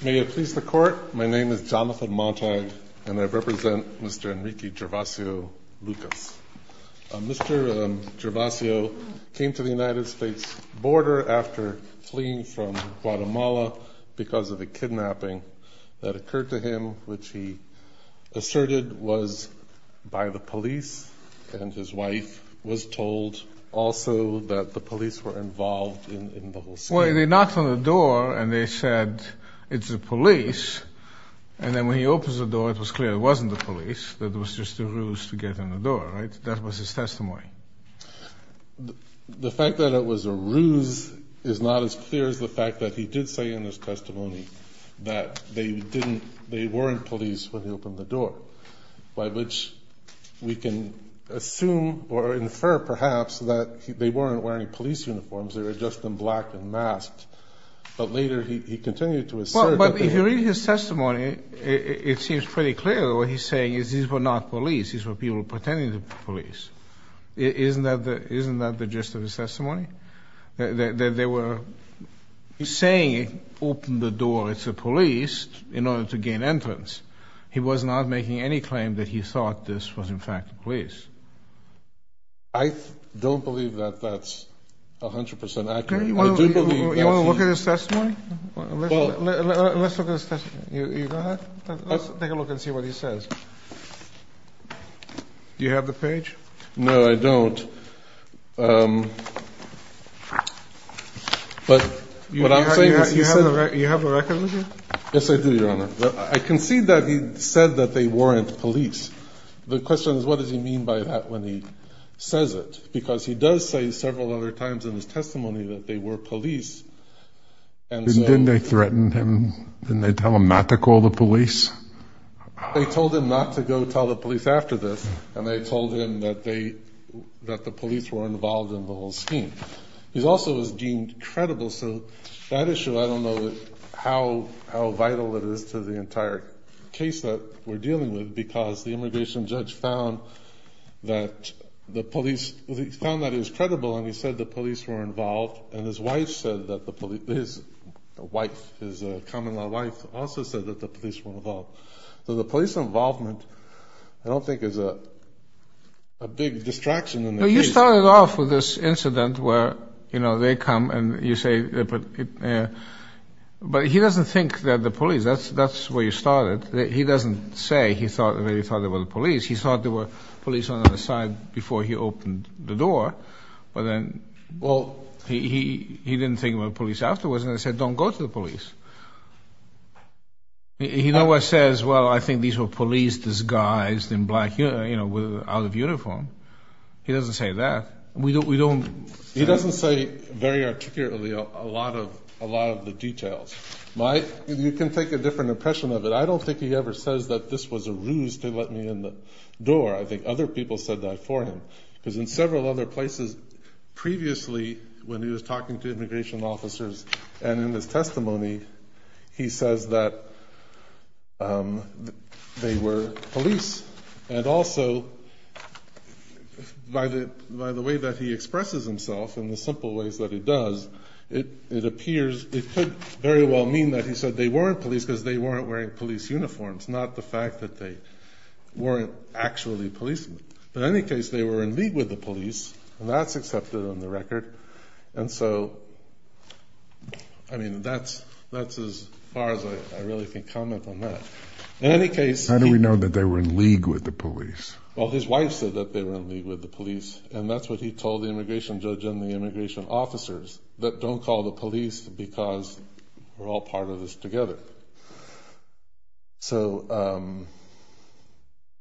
May it please the Court, my name is Jonathan Montag, and I represent Mr. Enrique Gervacio-Lucas. Mr. Gervacio came to the United States border after fleeing from Guatemala because of a kidnapping that occurred to him, which he asserted was by the police, and his wife was told also that the police were involved in the whole scene. So they knocked on the door and they said, it's the police, and then when he opens the door it was clear it wasn't the police, that it was just a ruse to get in the door, right? That was his testimony. The fact that it was a ruse is not as clear as the fact that he did say in his testimony that they weren't police when he opened the door, by which we can assume or infer perhaps that they weren't wearing police uniforms, they were just in black and masked. But later he continued to assert that... But if you read his testimony, it seems pretty clear that what he's saying is these were not police, these were people pretending to be police. Isn't that the gist of his testimony? That they were saying, open the door, it's the police, in order to gain entrance. He was not making any claim that he thought this was in fact the police. I don't believe that that's 100% accurate. You want to look at his testimony? Let's look at his testimony. You go ahead. Let's take a look and see what he says. Do you have the page? No, I don't. But what I'm saying is... You have the record with you? Yes, I do, Your Honor. I concede that he said that they weren't police. The question is, what does he mean by that when he says it? Because he does say several other times in his testimony that they were police, and so... Didn't they threaten him? Didn't they tell him not to call the police? They told him not to go tell the police after this, and they told him that the police were involved in the whole scheme. He also was deemed credible, so that issue, I don't know how vital it is to the entire case that we're dealing with, because the immigration judge found that the police... Well, he found that he was credible, and he said the police were involved, and his wife said that the police... His wife, his common-law wife, also said that the police were involved. So the police involvement, I don't think, is a big distraction in the case. You know, you started off with this incident where, you know, they come and you say... But he doesn't think that the police... That's where you started. He doesn't say he thought they were the police. He thought there were police on the other side before he opened the door, but then... Well... He didn't think it was the police afterwards, and he said, don't go to the police. He never says, well, I think these were police disguised in black, you know, out of uniform. He doesn't say that. We don't... He doesn't say very articulately a lot of the details. You can take a different impression of it. I don't think he ever says that this was a ruse to let me in the door. I think other people said that for him, because in several other places, previously when he was talking to immigration officers and in his testimony, he says that they were police. And also, by the way that he expresses himself and the simple ways that he does, it appears... It could very well mean that he said they weren't police because they weren't wearing police uniforms, not the fact that they weren't actually policemen. But in any case, they were in league with the police, and that's accepted on the record. And so, I mean, that's as far as I really can comment on that. In any case... How do we know that they were in league with the police? Well, his wife said that they were in league with the police, and that's what he told the immigration judge and the immigration officers, that don't call the police because we're all part of this together. So,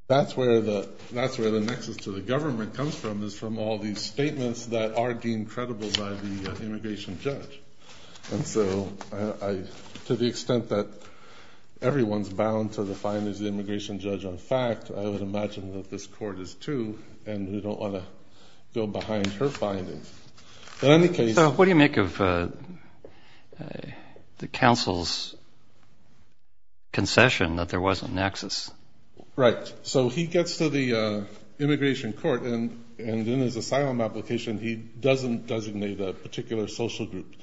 that's where the nexus to the government comes from, is from all these statements that are deemed credible by the immigration judge. And so, to the extent that everyone's bound to the findings of the immigration judge on fact, I would imagine that this court is too, and we don't want to go behind her findings. So, what do you make of the counsel's concession that there was a nexus? Right. So, he gets to the immigration court, and in his asylum application, he doesn't designate a particular social group.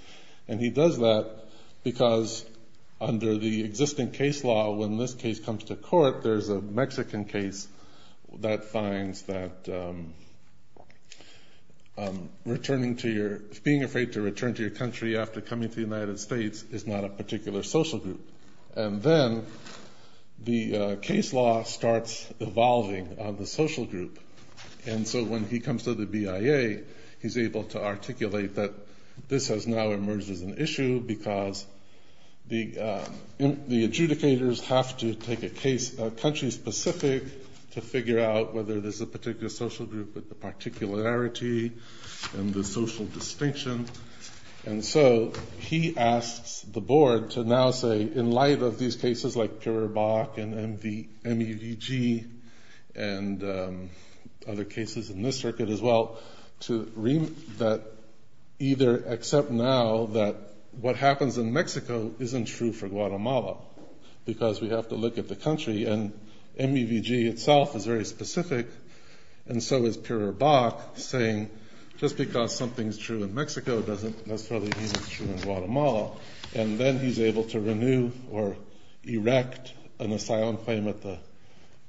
And he does that because under the existing case law, when this case comes to court, there's a Mexican case that finds that being afraid to return to your country after coming to the United States is not a particular social group. And then, the case law starts evolving on the social group. And so, when he comes to the BIA, he's able to articulate that this has now emerged as an issue because the adjudicators have to take a case country-specific to figure out whether there's a particular social group with the particularity and the social distinction. And so, he asks the board to now say, in light of these cases like Piribac and MEVG, and other cases in this circuit as well, to either accept now that what happens in Mexico isn't true for Guatemala because we have to look at the country, and MEVG itself is very specific. And so is Piribac saying, just because something's true in Mexico doesn't necessarily mean it's true in Guatemala. And then, he's able to renew or erect an asylum claim at the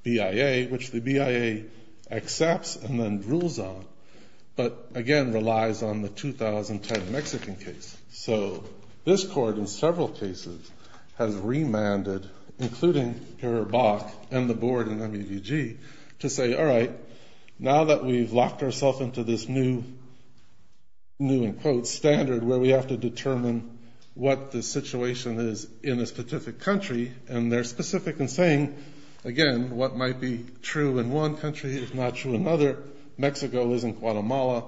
BIA, which the BIA accepts and then rules on, but again, relies on the 2010 Mexican case. So, this court in several cases has remanded, including Piribac and the board in MEVG, to say, all right, now that we've locked ourselves into this new, in quotes, standard where we have to determine what the situation is in a specific country, and they're specific in saying, again, what might be true in one country is not true in another. Mexico isn't Guatemala.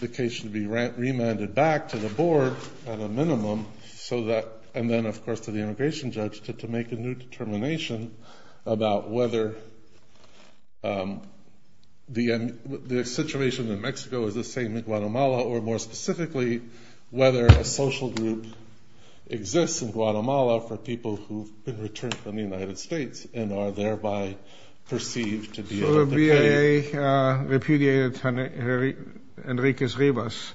The case should be remanded back to the board at a minimum, and then, of course, to the immigration judge to make a new determination about whether the situation in Mexico is the same in Guatemala or, more specifically, whether a social group exists in Guatemala for people who've been returned from the United States and are thereby perceived to be of the kind. The BIA repudiated Enrique Rivas.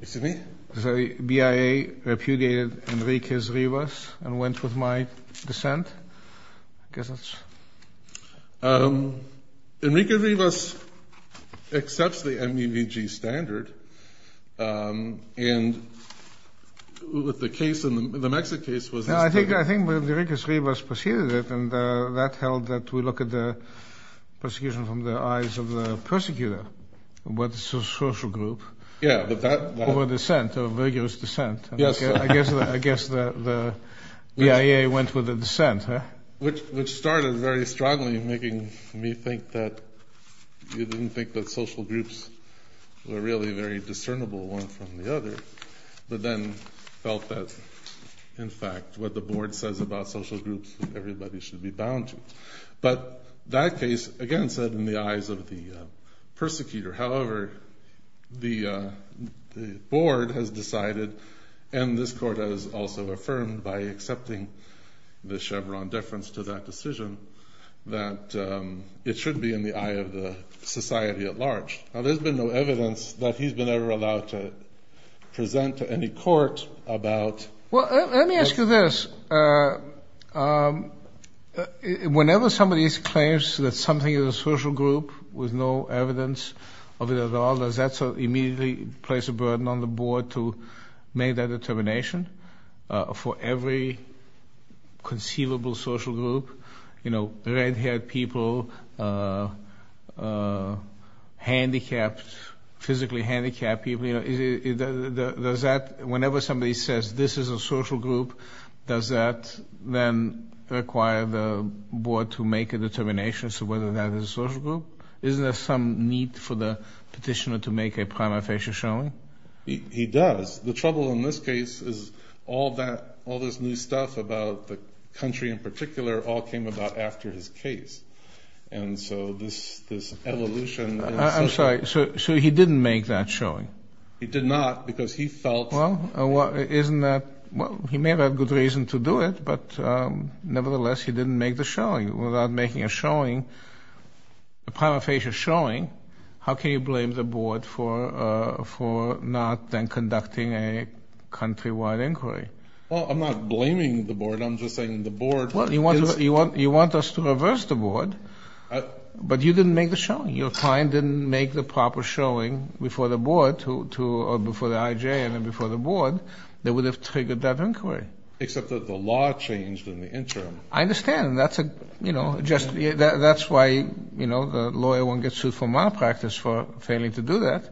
Excuse me? The BIA repudiated Enrique Rivas and went with my dissent. I guess that's... Enrique Rivas accepts the MEVG standard, and with the case, the Mexican case was... I think Enrique Rivas proceeded it, and that held that we look at the persecution from the eyes of the persecutor. What's a social group? Yeah, but that... Or a dissent, a vigorous dissent. Yes. I guess the BIA went with the dissent. Which started very strongly in making me think that you didn't think that social groups were really very discernible one from the other, but then felt that, in fact, what the board says about social groups, everybody should be bound to. But that case, again, said in the eyes of the persecutor. However, the board has decided, and this court has also affirmed by accepting the Chevron deference to that decision, that it should be in the eye of the society at large. Now, there's been no evidence that he's been ever allowed to present to any court about... Well, let me ask you this. Whenever somebody claims that something is a social group with no evidence of it at all, does that immediately place a burden on the board to make that determination? For every conceivable social group, you know, red-haired people, handicapped, physically handicapped people, does that, whenever somebody says, this is a social group, does that then require the board to make a determination as to whether that is a social group? Isn't there some need for the petitioner to make a prima facie showing? He does. The trouble in this case is all this new stuff about the country in particular all came about after his case. And so this evolution... I'm sorry. So he didn't make that showing? He did not because he felt... Well, isn't that... Well, he may have a good reason to do it, but nevertheless, he didn't make the showing. Without making a showing, a prima facie showing, how can you blame the board for not then conducting a country-wide inquiry? Well, I'm not blaming the board. I'm just saying the board... Well, you want us to reverse the board, but you didn't make the showing. Your client didn't make the proper showing before the board or before the IJ and then before the board that would have triggered that inquiry. Except that the law changed in the interim. I understand. That's why the lawyer won't get sued for malpractice for failing to do that.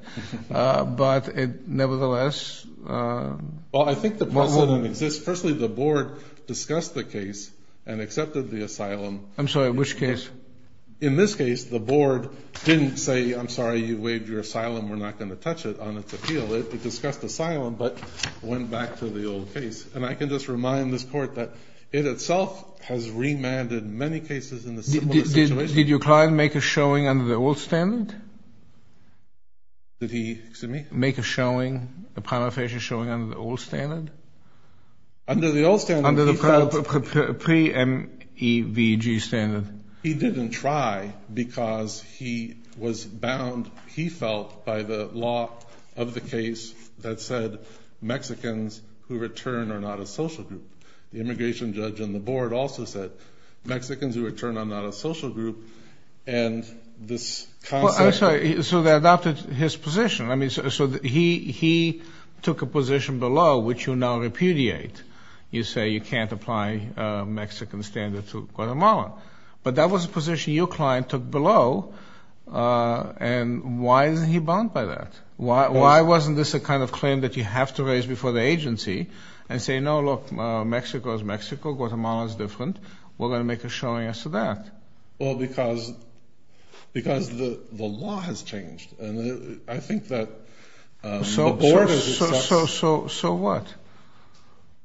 But nevertheless... Well, I think the precedent exists. Firstly, the board discussed the case and accepted the asylum. I'm sorry. Which case? In this case, the board didn't say, I'm sorry, you waived your asylum. We're not going to touch it on its appeal. It discussed asylum but went back to the old case. And I can just remind this Court that it itself has remanded many cases in the similar situation. Did your client make a showing under the old standard? Did he? Excuse me? Make a showing, a prima facie showing under the old standard? Under the old standard. Under the pre-MEVG standard. He didn't try because he was bound, he felt, by the law of the case that said Mexicans who return are not a social group. The immigration judge on the board also said Mexicans who return are not a social group. And this concept... I'm sorry. So they adopted his position. So he took a position below which you now repudiate. You say you can't apply Mexican standards to Guatemala. But that was a position your client took below. And why isn't he bound by that? Why wasn't this a kind of claim that you have to raise before the agency and say, no, look, Mexico is Mexico. Guatemala is different. We're going to make a showing as to that. Well, because the law has changed. I think that the board has... So what?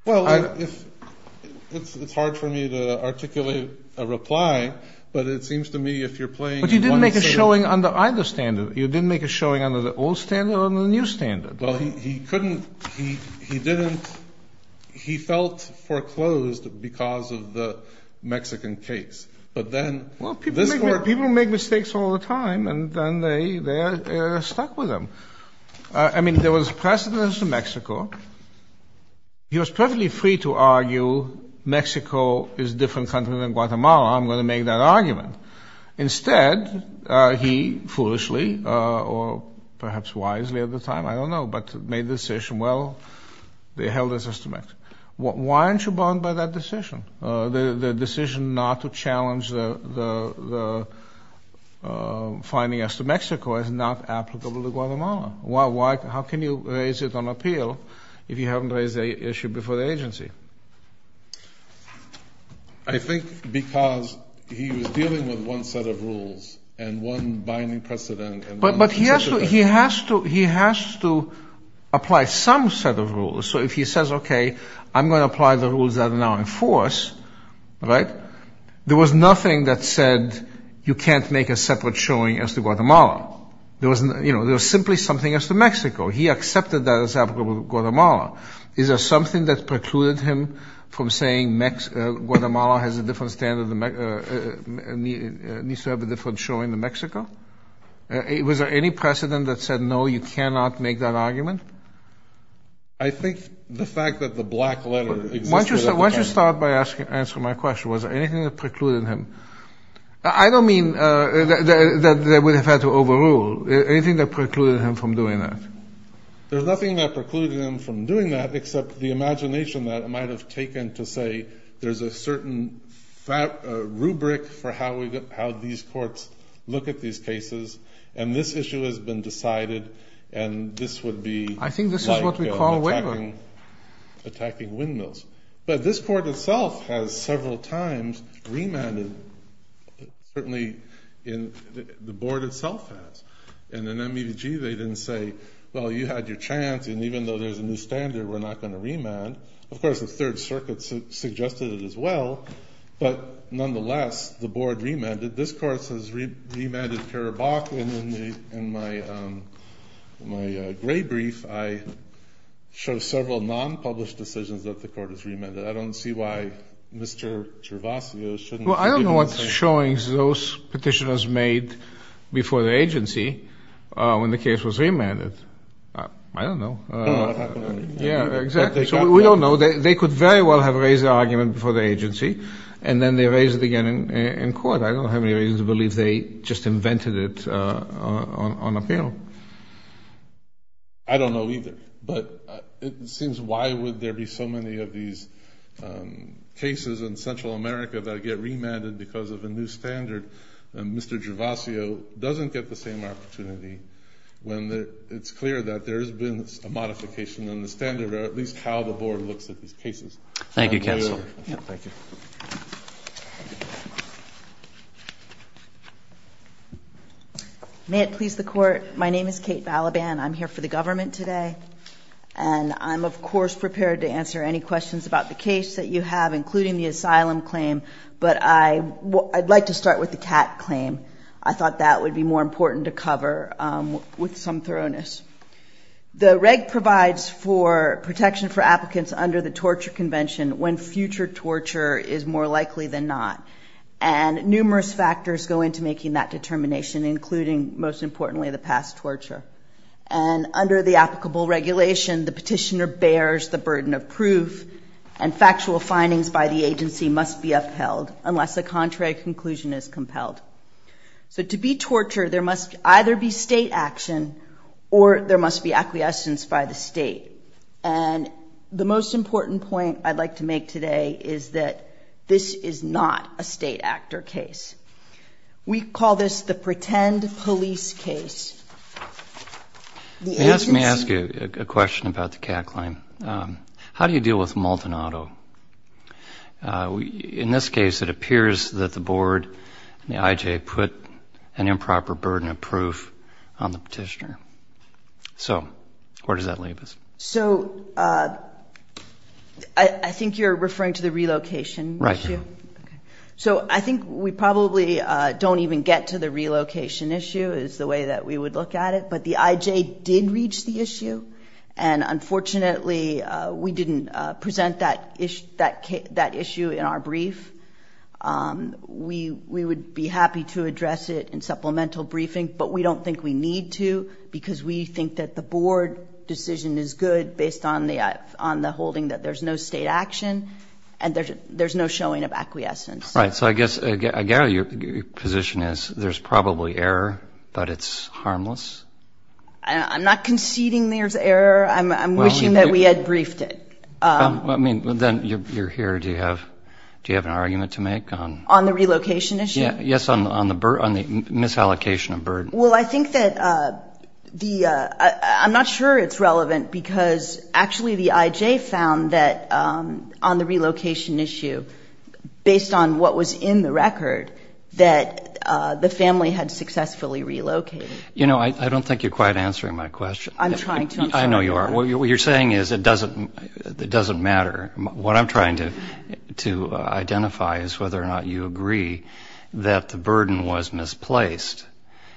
Well, it's hard for me to articulate a reply, but it seems to me if you're playing... But you didn't make a showing under either standard. You didn't make a showing under the old standard or the new standard. Well, he couldn't, he didn't, he felt foreclosed because of the Mexican case. Well, people make mistakes all the time, and then they're stuck with them. I mean, there was precedence to Mexico. He was perfectly free to argue Mexico is a different country than Guatemala. I'm going to make that argument. Instead, he foolishly, or perhaps wisely at the time, I don't know, but made the decision, well, they held us as to Mexico. Why aren't you bound by that decision? The decision not to challenge the finding as to Mexico is not applicable to Guatemala. How can you raise it on appeal if you haven't raised the issue before the agency? I think because he was dealing with one set of rules and one binding precedent. But he has to apply some set of rules. So if he says, okay, I'm going to apply the rules that are now in force, right, there was nothing that said you can't make a separate showing as to Guatemala. There was simply something as to Mexico. He accepted that as applicable to Guatemala. Is there something that precluded him from saying Guatemala has a different standard, needs to have a different showing than Mexico? Was there any precedent that said, no, you cannot make that argument? I think the fact that the black letter existed at the time. Why don't you start by answering my question. Was there anything that precluded him? I don't mean that they would have had to overrule. Anything that precluded him from doing that? There's nothing that precluded him from doing that, except the imagination that it might have taken to say there's a certain rubric for how these courts look at these cases, and this issue has been decided, and this would be like attacking windmills. But this court itself has several times remanded, certainly the board itself has. And in MEDG they didn't say, well, you had your chance, and even though there's a new standard, we're not going to remand. Of course, the Third Circuit suggested it as well. But nonetheless, the board remanded. This court has remanded Karabakh, and in my gray brief, I show several nonpublished decisions that the court has remanded. I don't see why Mr. Gervasio shouldn't be giving the same. Well, I don't know what showings those petitioners made before the agency when the case was remanded. I don't know. I don't know what happened. Yeah, exactly. So we don't know. They could very well have raised the argument before the agency, and then they raised it again in court. I don't have any reason to believe they just invented it on appeal. I don't know either. But it seems why would there be so many of these cases in Central America that get remanded because of a new standard, and Mr. Gervasio doesn't get the same opportunity when it's clear that there has been a modification in the standard, or at least how the board looks at these cases. Thank you, counsel. Thank you. May it please the Court, my name is Kate Balaban. I'm here for the government today, and I'm, of course, prepared to answer any questions about the case that you have, including the asylum claim, but I'd like to start with the CAT claim. I thought that would be more important to cover with some thoroughness. The reg provides for protection for applicants under the torture convention when future torture is more likely than not, and numerous factors go into making that determination, including, most importantly, the past torture. And under the applicable regulation, the petitioner bears the burden of proof, and factual findings by the agency must be upheld unless a contrary conclusion is compelled. So to be tortured, there must either be state action or there must be acquiescence by the state. And the most important point I'd like to make today is that this is not a state act or case. We call this the pretend police case. Let me ask you a question about the CAT claim. How do you deal with multinado? In this case, it appears that the board and the IJ put an improper burden of proof on the petitioner. So where does that leave us? So I think you're referring to the relocation issue. Right. So I think we probably don't even get to the relocation issue is the way that we would look at it, but the IJ did reach the issue, and unfortunately we didn't present that issue in our brief. We would be happy to address it in supplemental briefing, but we don't think we need to because we think that the board decision is good based on the holding that there's no state action and there's no showing of acquiescence. Right. So I guess, Gary, your position is there's probably error, but it's harmless? I'm not conceding there's error. I'm wishing that we had briefed it. Then you're here. Do you have an argument to make on the relocation issue? Yes, on the misallocation of burden. Well, I think that the ‑‑ I'm not sure it's relevant because actually the IJ found that on the relocation issue, based on what was in the record, that the family had successfully relocated. You know, I don't think you're quite answering my question. I'm trying to. I know you are. What you're saying is it doesn't matter. What I'm trying to identify is whether or not you agree that the burden was misplaced,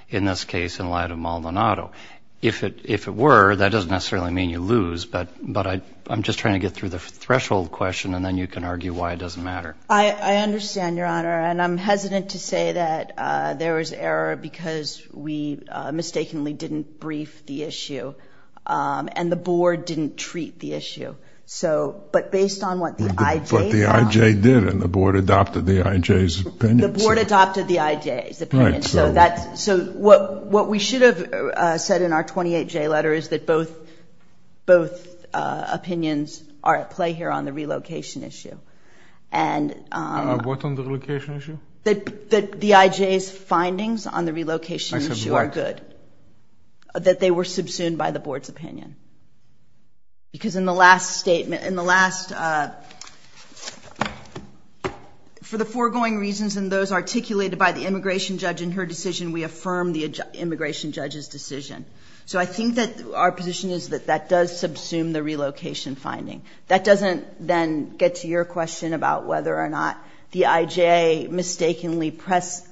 in this case in light of Maldonado. If it were, that doesn't necessarily mean you lose, but I'm just trying to get through the threshold question and then you can argue why it doesn't matter. I understand, Your Honor, and I'm hesitant to say that there was error because we mistakenly didn't brief the issue and the board didn't treat the issue. But based on what the IJ found ‑‑ But the IJ did and the board adopted the IJ's opinion. The board adopted the IJ's opinion. Right. So what we should have said in our 28J letter is that both opinions are at play here on the relocation issue. What on the relocation issue? That the IJ's findings on the relocation issue are good. I said what? That they were subsumed by the board's opinion. Because in the last statement, in the last ‑‑ for the foregoing reasons and those articulated by the immigration judge in her decision, we affirm the immigration judge's decision. So I think that our position is that that does subsume the relocation finding. That doesn't then get to your question about whether or not the IJ mistakenly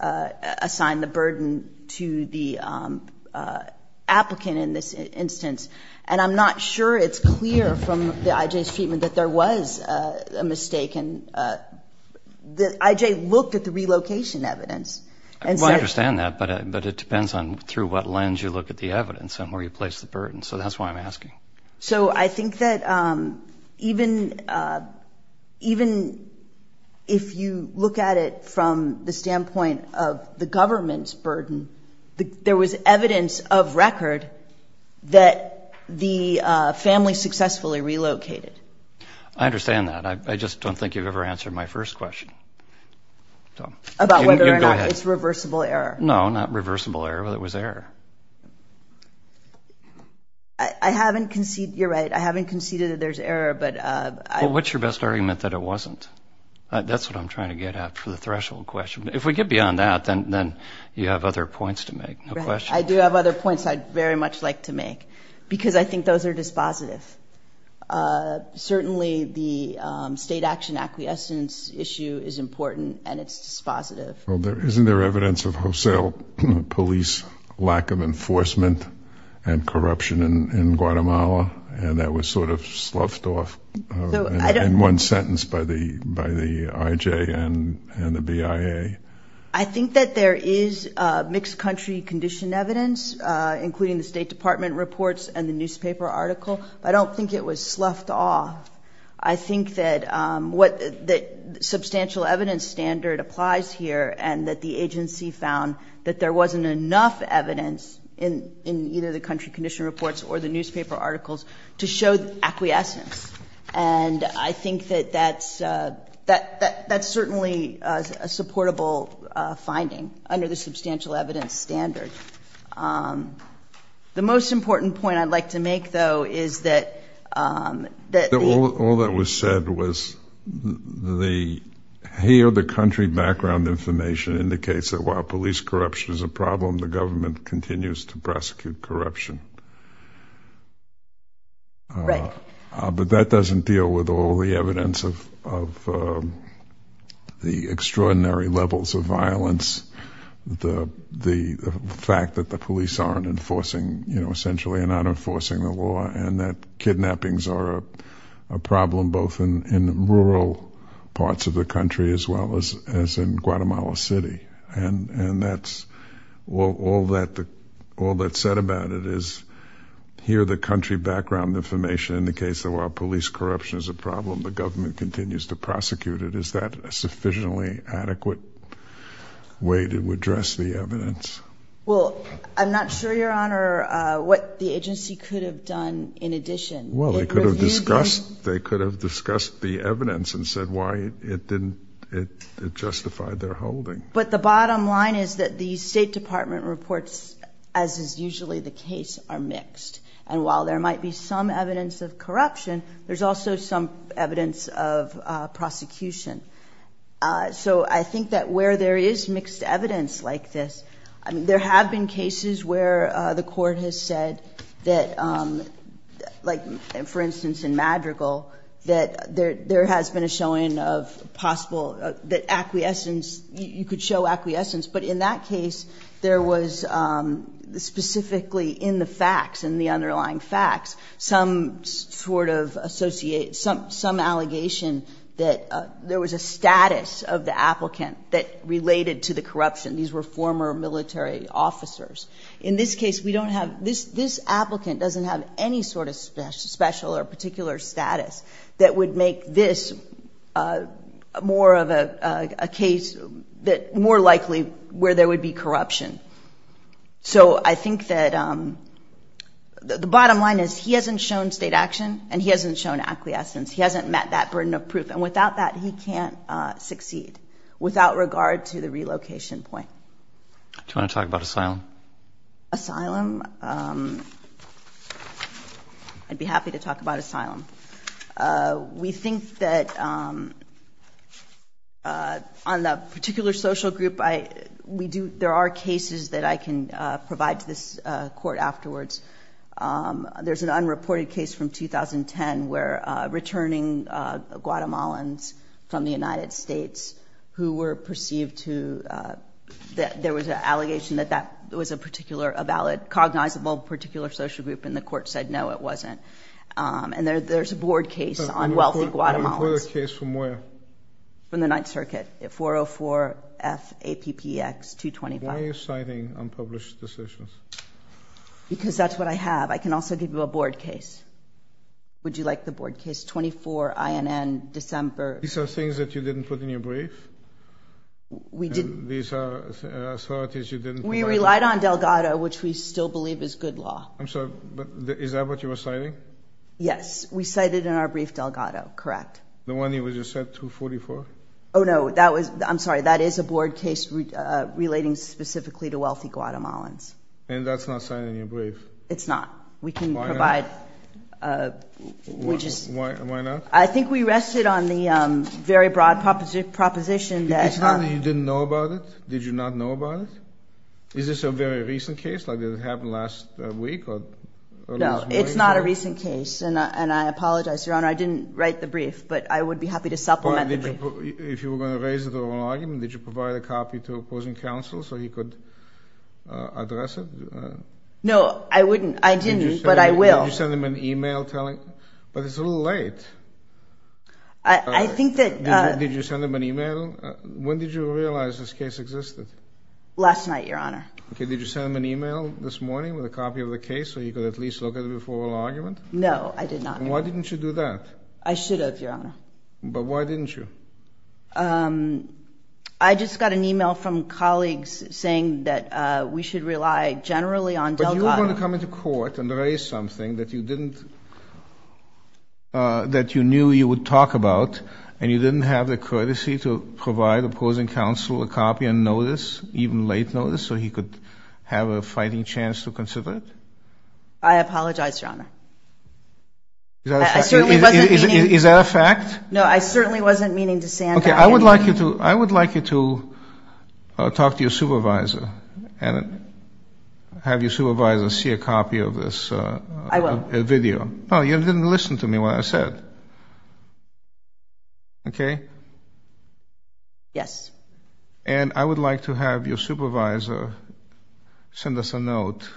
assigned the burden to the applicant in this instance. And I'm not sure it's clear from the IJ's treatment that there was a mistake. The IJ looked at the relocation evidence. Well, I understand that, but it depends on through what lens you look at the evidence and where you place the burden. So that's why I'm asking. So I think that even if you look at it from the standpoint of the government's burden, there was evidence of record that the family successfully relocated. I understand that. I just don't think you've ever answered my first question. About whether or not it's reversible error. No, not reversible error, whether it was error. I haven't conceded. You're right. I haven't conceded that there's error, but I. Well, what's your best argument that it wasn't? That's what I'm trying to get at for the threshold question. If we get beyond that, then you have other points to make. No question. I do have other points I'd very much like to make because I think those are dispositive. Certainly the state action acquiescence issue is important and it's dispositive. Well, isn't there evidence of wholesale police lack of enforcement and corruption in Guatemala? And that was sort of sloughed off in one sentence by the IJ and the BIA. I think that there is mixed country condition evidence, including the State Department reports and the newspaper article. I don't think it was sloughed off. I think that substantial evidence standard applies here and that the agency found that there wasn't enough evidence in either the country condition reports or the newspaper articles to show acquiescence. And I think that that's certainly a supportable finding under the substantial evidence standard. The most important point I'd like to make, though, is that. All that was said was the, here the country background information indicates that while police corruption is a problem, the government continues to prosecute corruption. Right. But that doesn't deal with all the evidence of the extraordinary levels of violence, the fact that the police aren't enforcing, you know, essentially are not enforcing the law, and that kidnappings are a problem both in rural parts of the country as well as in Guatemala City. And that's all that's said about it is here the country background information indicates that while police corruption is a problem, the government continues to prosecute it. Is that a sufficiently adequate way to address the evidence? Well, I'm not sure, Your Honor, what the agency could have done in addition. Well, they could have discussed the evidence and said why it didn't justify their holding. But the bottom line is that the State Department reports, as is usually the case, are mixed. And while there might be some evidence of corruption, there's also some evidence of prosecution. So I think that where there is mixed evidence like this, I mean, there have been cases where the court has said that, like, for instance, in Madrigal, that there has been a showing of possible that acquiescence, you could show acquiescence. But in that case, there was specifically in the facts, in the underlying facts, some sort of association, some allegation that there was a status of the applicant that related to the corruption. These were former military officers. In this case, we don't have this. This applicant doesn't have any sort of special or particular status that would make this more of a case that more likely where there would be corruption. So I think that the bottom line is he hasn't shown state action and he hasn't shown acquiescence. He hasn't met that burden of proof. And without that, he can't succeed without regard to the relocation point. Do you want to talk about asylum? Asylum? I'd be happy to talk about asylum. We think that on the particular social group, there are cases that I can provide to this court afterwards. There's an unreported case from 2010 where returning Guatemalans from the United States who were perceived to – there was an allegation that that was a particular – a valid, cognizable particular social group, and the court said, no, it wasn't. And there's a board case on wealthy Guatemalans. Unreported case from where? From the Ninth Circuit, 404-F-APPX-225. Why are you citing unpublished decisions? Because that's what I have. I can also give you a board case. Would you like the board case 24-INN-December? These are things that you didn't put in your brief? We didn't. These are authorities you didn't put in your brief? We relied on Delgado, which we still believe is good law. I'm sorry, but is that what you were citing? Yes. We cited in our brief Delgado, correct. The one you just said, 244? Oh, no. That was – I'm sorry. That is a board case relating specifically to wealthy Guatemalans. And that's not cited in your brief? It's not. We can provide – Why not? We just – Why not? I think we rested on the very broad proposition that – It's not that you didn't know about it? Did you not know about it? Is this a very recent case? Like, did it happen last week? No, it's not a recent case, and I apologize, Your Honor. I didn't write the brief, but I would be happy to supplement the brief. If you were going to raise the oral argument, did you provide a copy to opposing counsel so he could address it? No, I wouldn't. I didn't, but I will. Did you send him an email telling – But it's a little late. I think that – Did you send him an email? When did you realize this case existed? Last night, Your Honor. Okay, did you send him an email this morning with a copy of the case so he could at least look at the before oral argument? No, I did not. Why didn't you do that? I should have, Your Honor. But why didn't you? I just got an email from colleagues saying that we should rely generally on Delgado. But you were going to come into court and raise something that you didn't – Did you provide opposing counsel a copy on notice, even late notice, so he could have a fighting chance to consider it? I apologize, Your Honor. Is that a fact? I certainly wasn't meaning – Is that a fact? No, I certainly wasn't meaning to – Okay, I would like you to talk to your supervisor and have your supervisor see a copy of this video. I will. No, you didn't listen to me when I said. Okay? Yes. And I would like to have your supervisor send us a note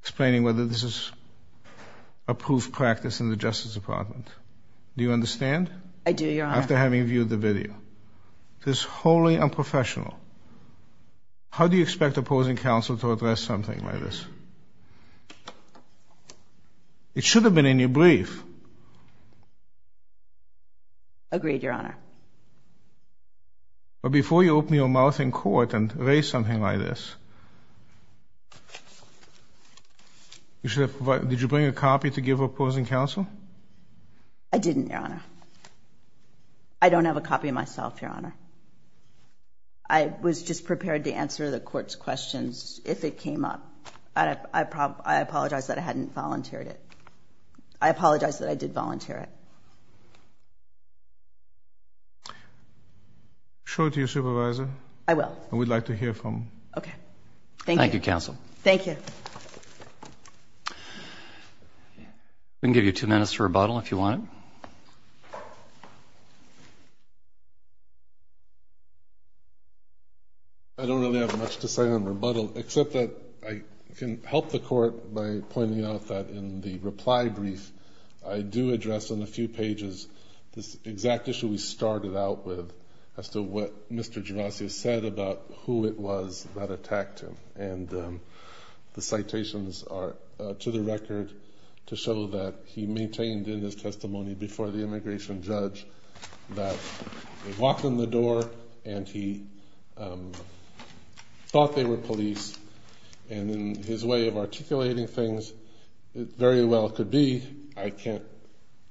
explaining whether this is a proof practice in the Justice Department. Do you understand? I do, Your Honor. After having viewed the video. This is wholly unprofessional. How do you expect opposing counsel to address something like this? It should have been in your brief. Agreed, Your Honor. But before you open your mouth in court and raise something like this, did you bring a copy to give opposing counsel? I didn't, Your Honor. I don't have a copy myself, Your Honor. I was just prepared to answer the court's questions if it came up. I apologize that I hadn't volunteered it. I apologize that I did volunteer it. Show it to your supervisor. I will. And we'd like to hear from – Okay. Thank you. Thank you, counsel. Thank you. We can give you two minutes to rebuttal if you want. I don't really have much to say on rebuttal, except that I can help the court by pointing out that in the reply brief, I do address on a few pages this exact issue we started out with as to what Mr. Gervasio said about who it was that attacked him. And the citations are to the record to show that he maintained in his testimony before the immigration judge that he walked in the door and he thought they were police. And in his way of articulating things, it very well could be – I can't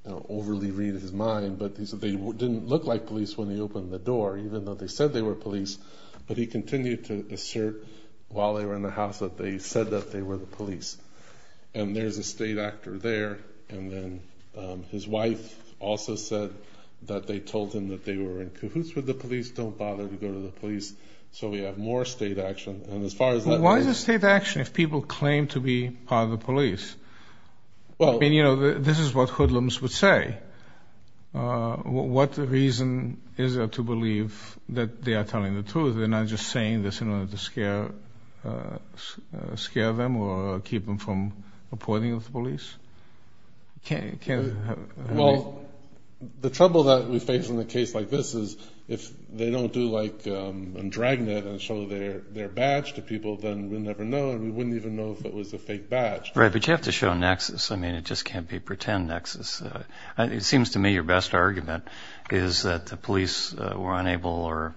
overly read his mind, but he said they didn't look like police when he opened the door, even though they said they were police. But he continued to assert while they were in the house that they said that they were the police. And there's a state actor there, and then his wife also said that they told him that they were in cahoots with the police, don't bother to go to the police, so we have more state action. And as far as that goes – Why is it state action if people claim to be part of the police? I mean, you know, this is what hoodlums would say. What reason is there to believe that they are telling the truth and not just saying this in order to scare them or keep them from reporting to the police? Well, the trouble that we face in a case like this is if they don't do like a dragnet and show their badge to people, then we'll never know and we wouldn't even know if it was a fake badge. Right, but you have to show nexus. I mean, it just can't be pretend nexus. It seems to me your best argument is that the police were unable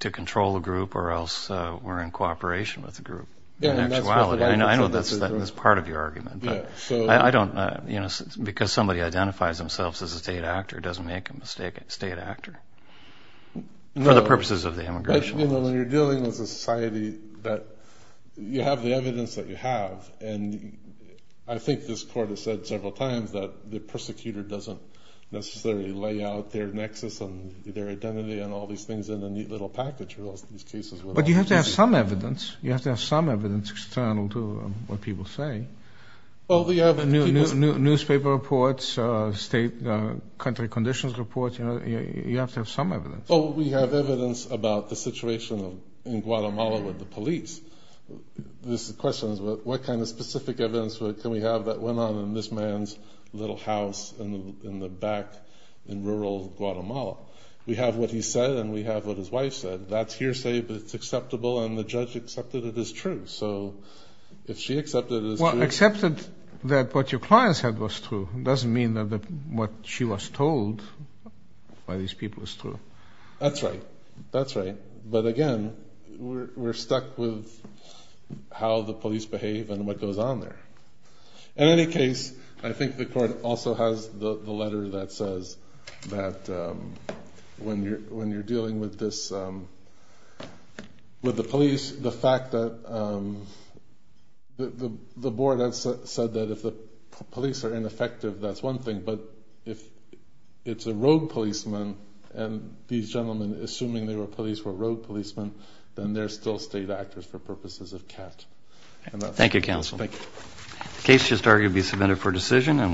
to control the group or else were in cooperation with the group in actuality. I know that's part of your argument, but I don't – because somebody identifies themselves as a state actor, doesn't make a mistake as a state actor for the purposes of the immigration law. When you're dealing with a society that you have the evidence that you have, and I think this court has said several times that the persecutor doesn't necessarily lay out their nexus and their identity and all these things in a neat little package for these cases. But you have to have some evidence. You have to have some evidence external to what people say. Newspaper reports, state country conditions reports, you have to have some evidence. Well, we have evidence about the situation in Guatemala with the police. This question is what kind of specific evidence can we have that went on in this man's little house in the back in rural Guatemala? We have what he said and we have what his wife said. That's hearsay, but it's acceptable, and the judge accepted it as true. So if she accepted it as true. Well, accepted that what your client said was true doesn't mean that what she was told by these people is true. That's right. That's right. But, again, we're stuck with how the police behave and what goes on there. In any case, I think the court also has the letter that says that when you're dealing with the police, the fact that the board has said that if the police are ineffective, that's one thing, but if it's a rogue policeman and these gentlemen, assuming they were police, were rogue policemen, then they're still state actors for purposes of CAT. Thank you, counsel. Thank you.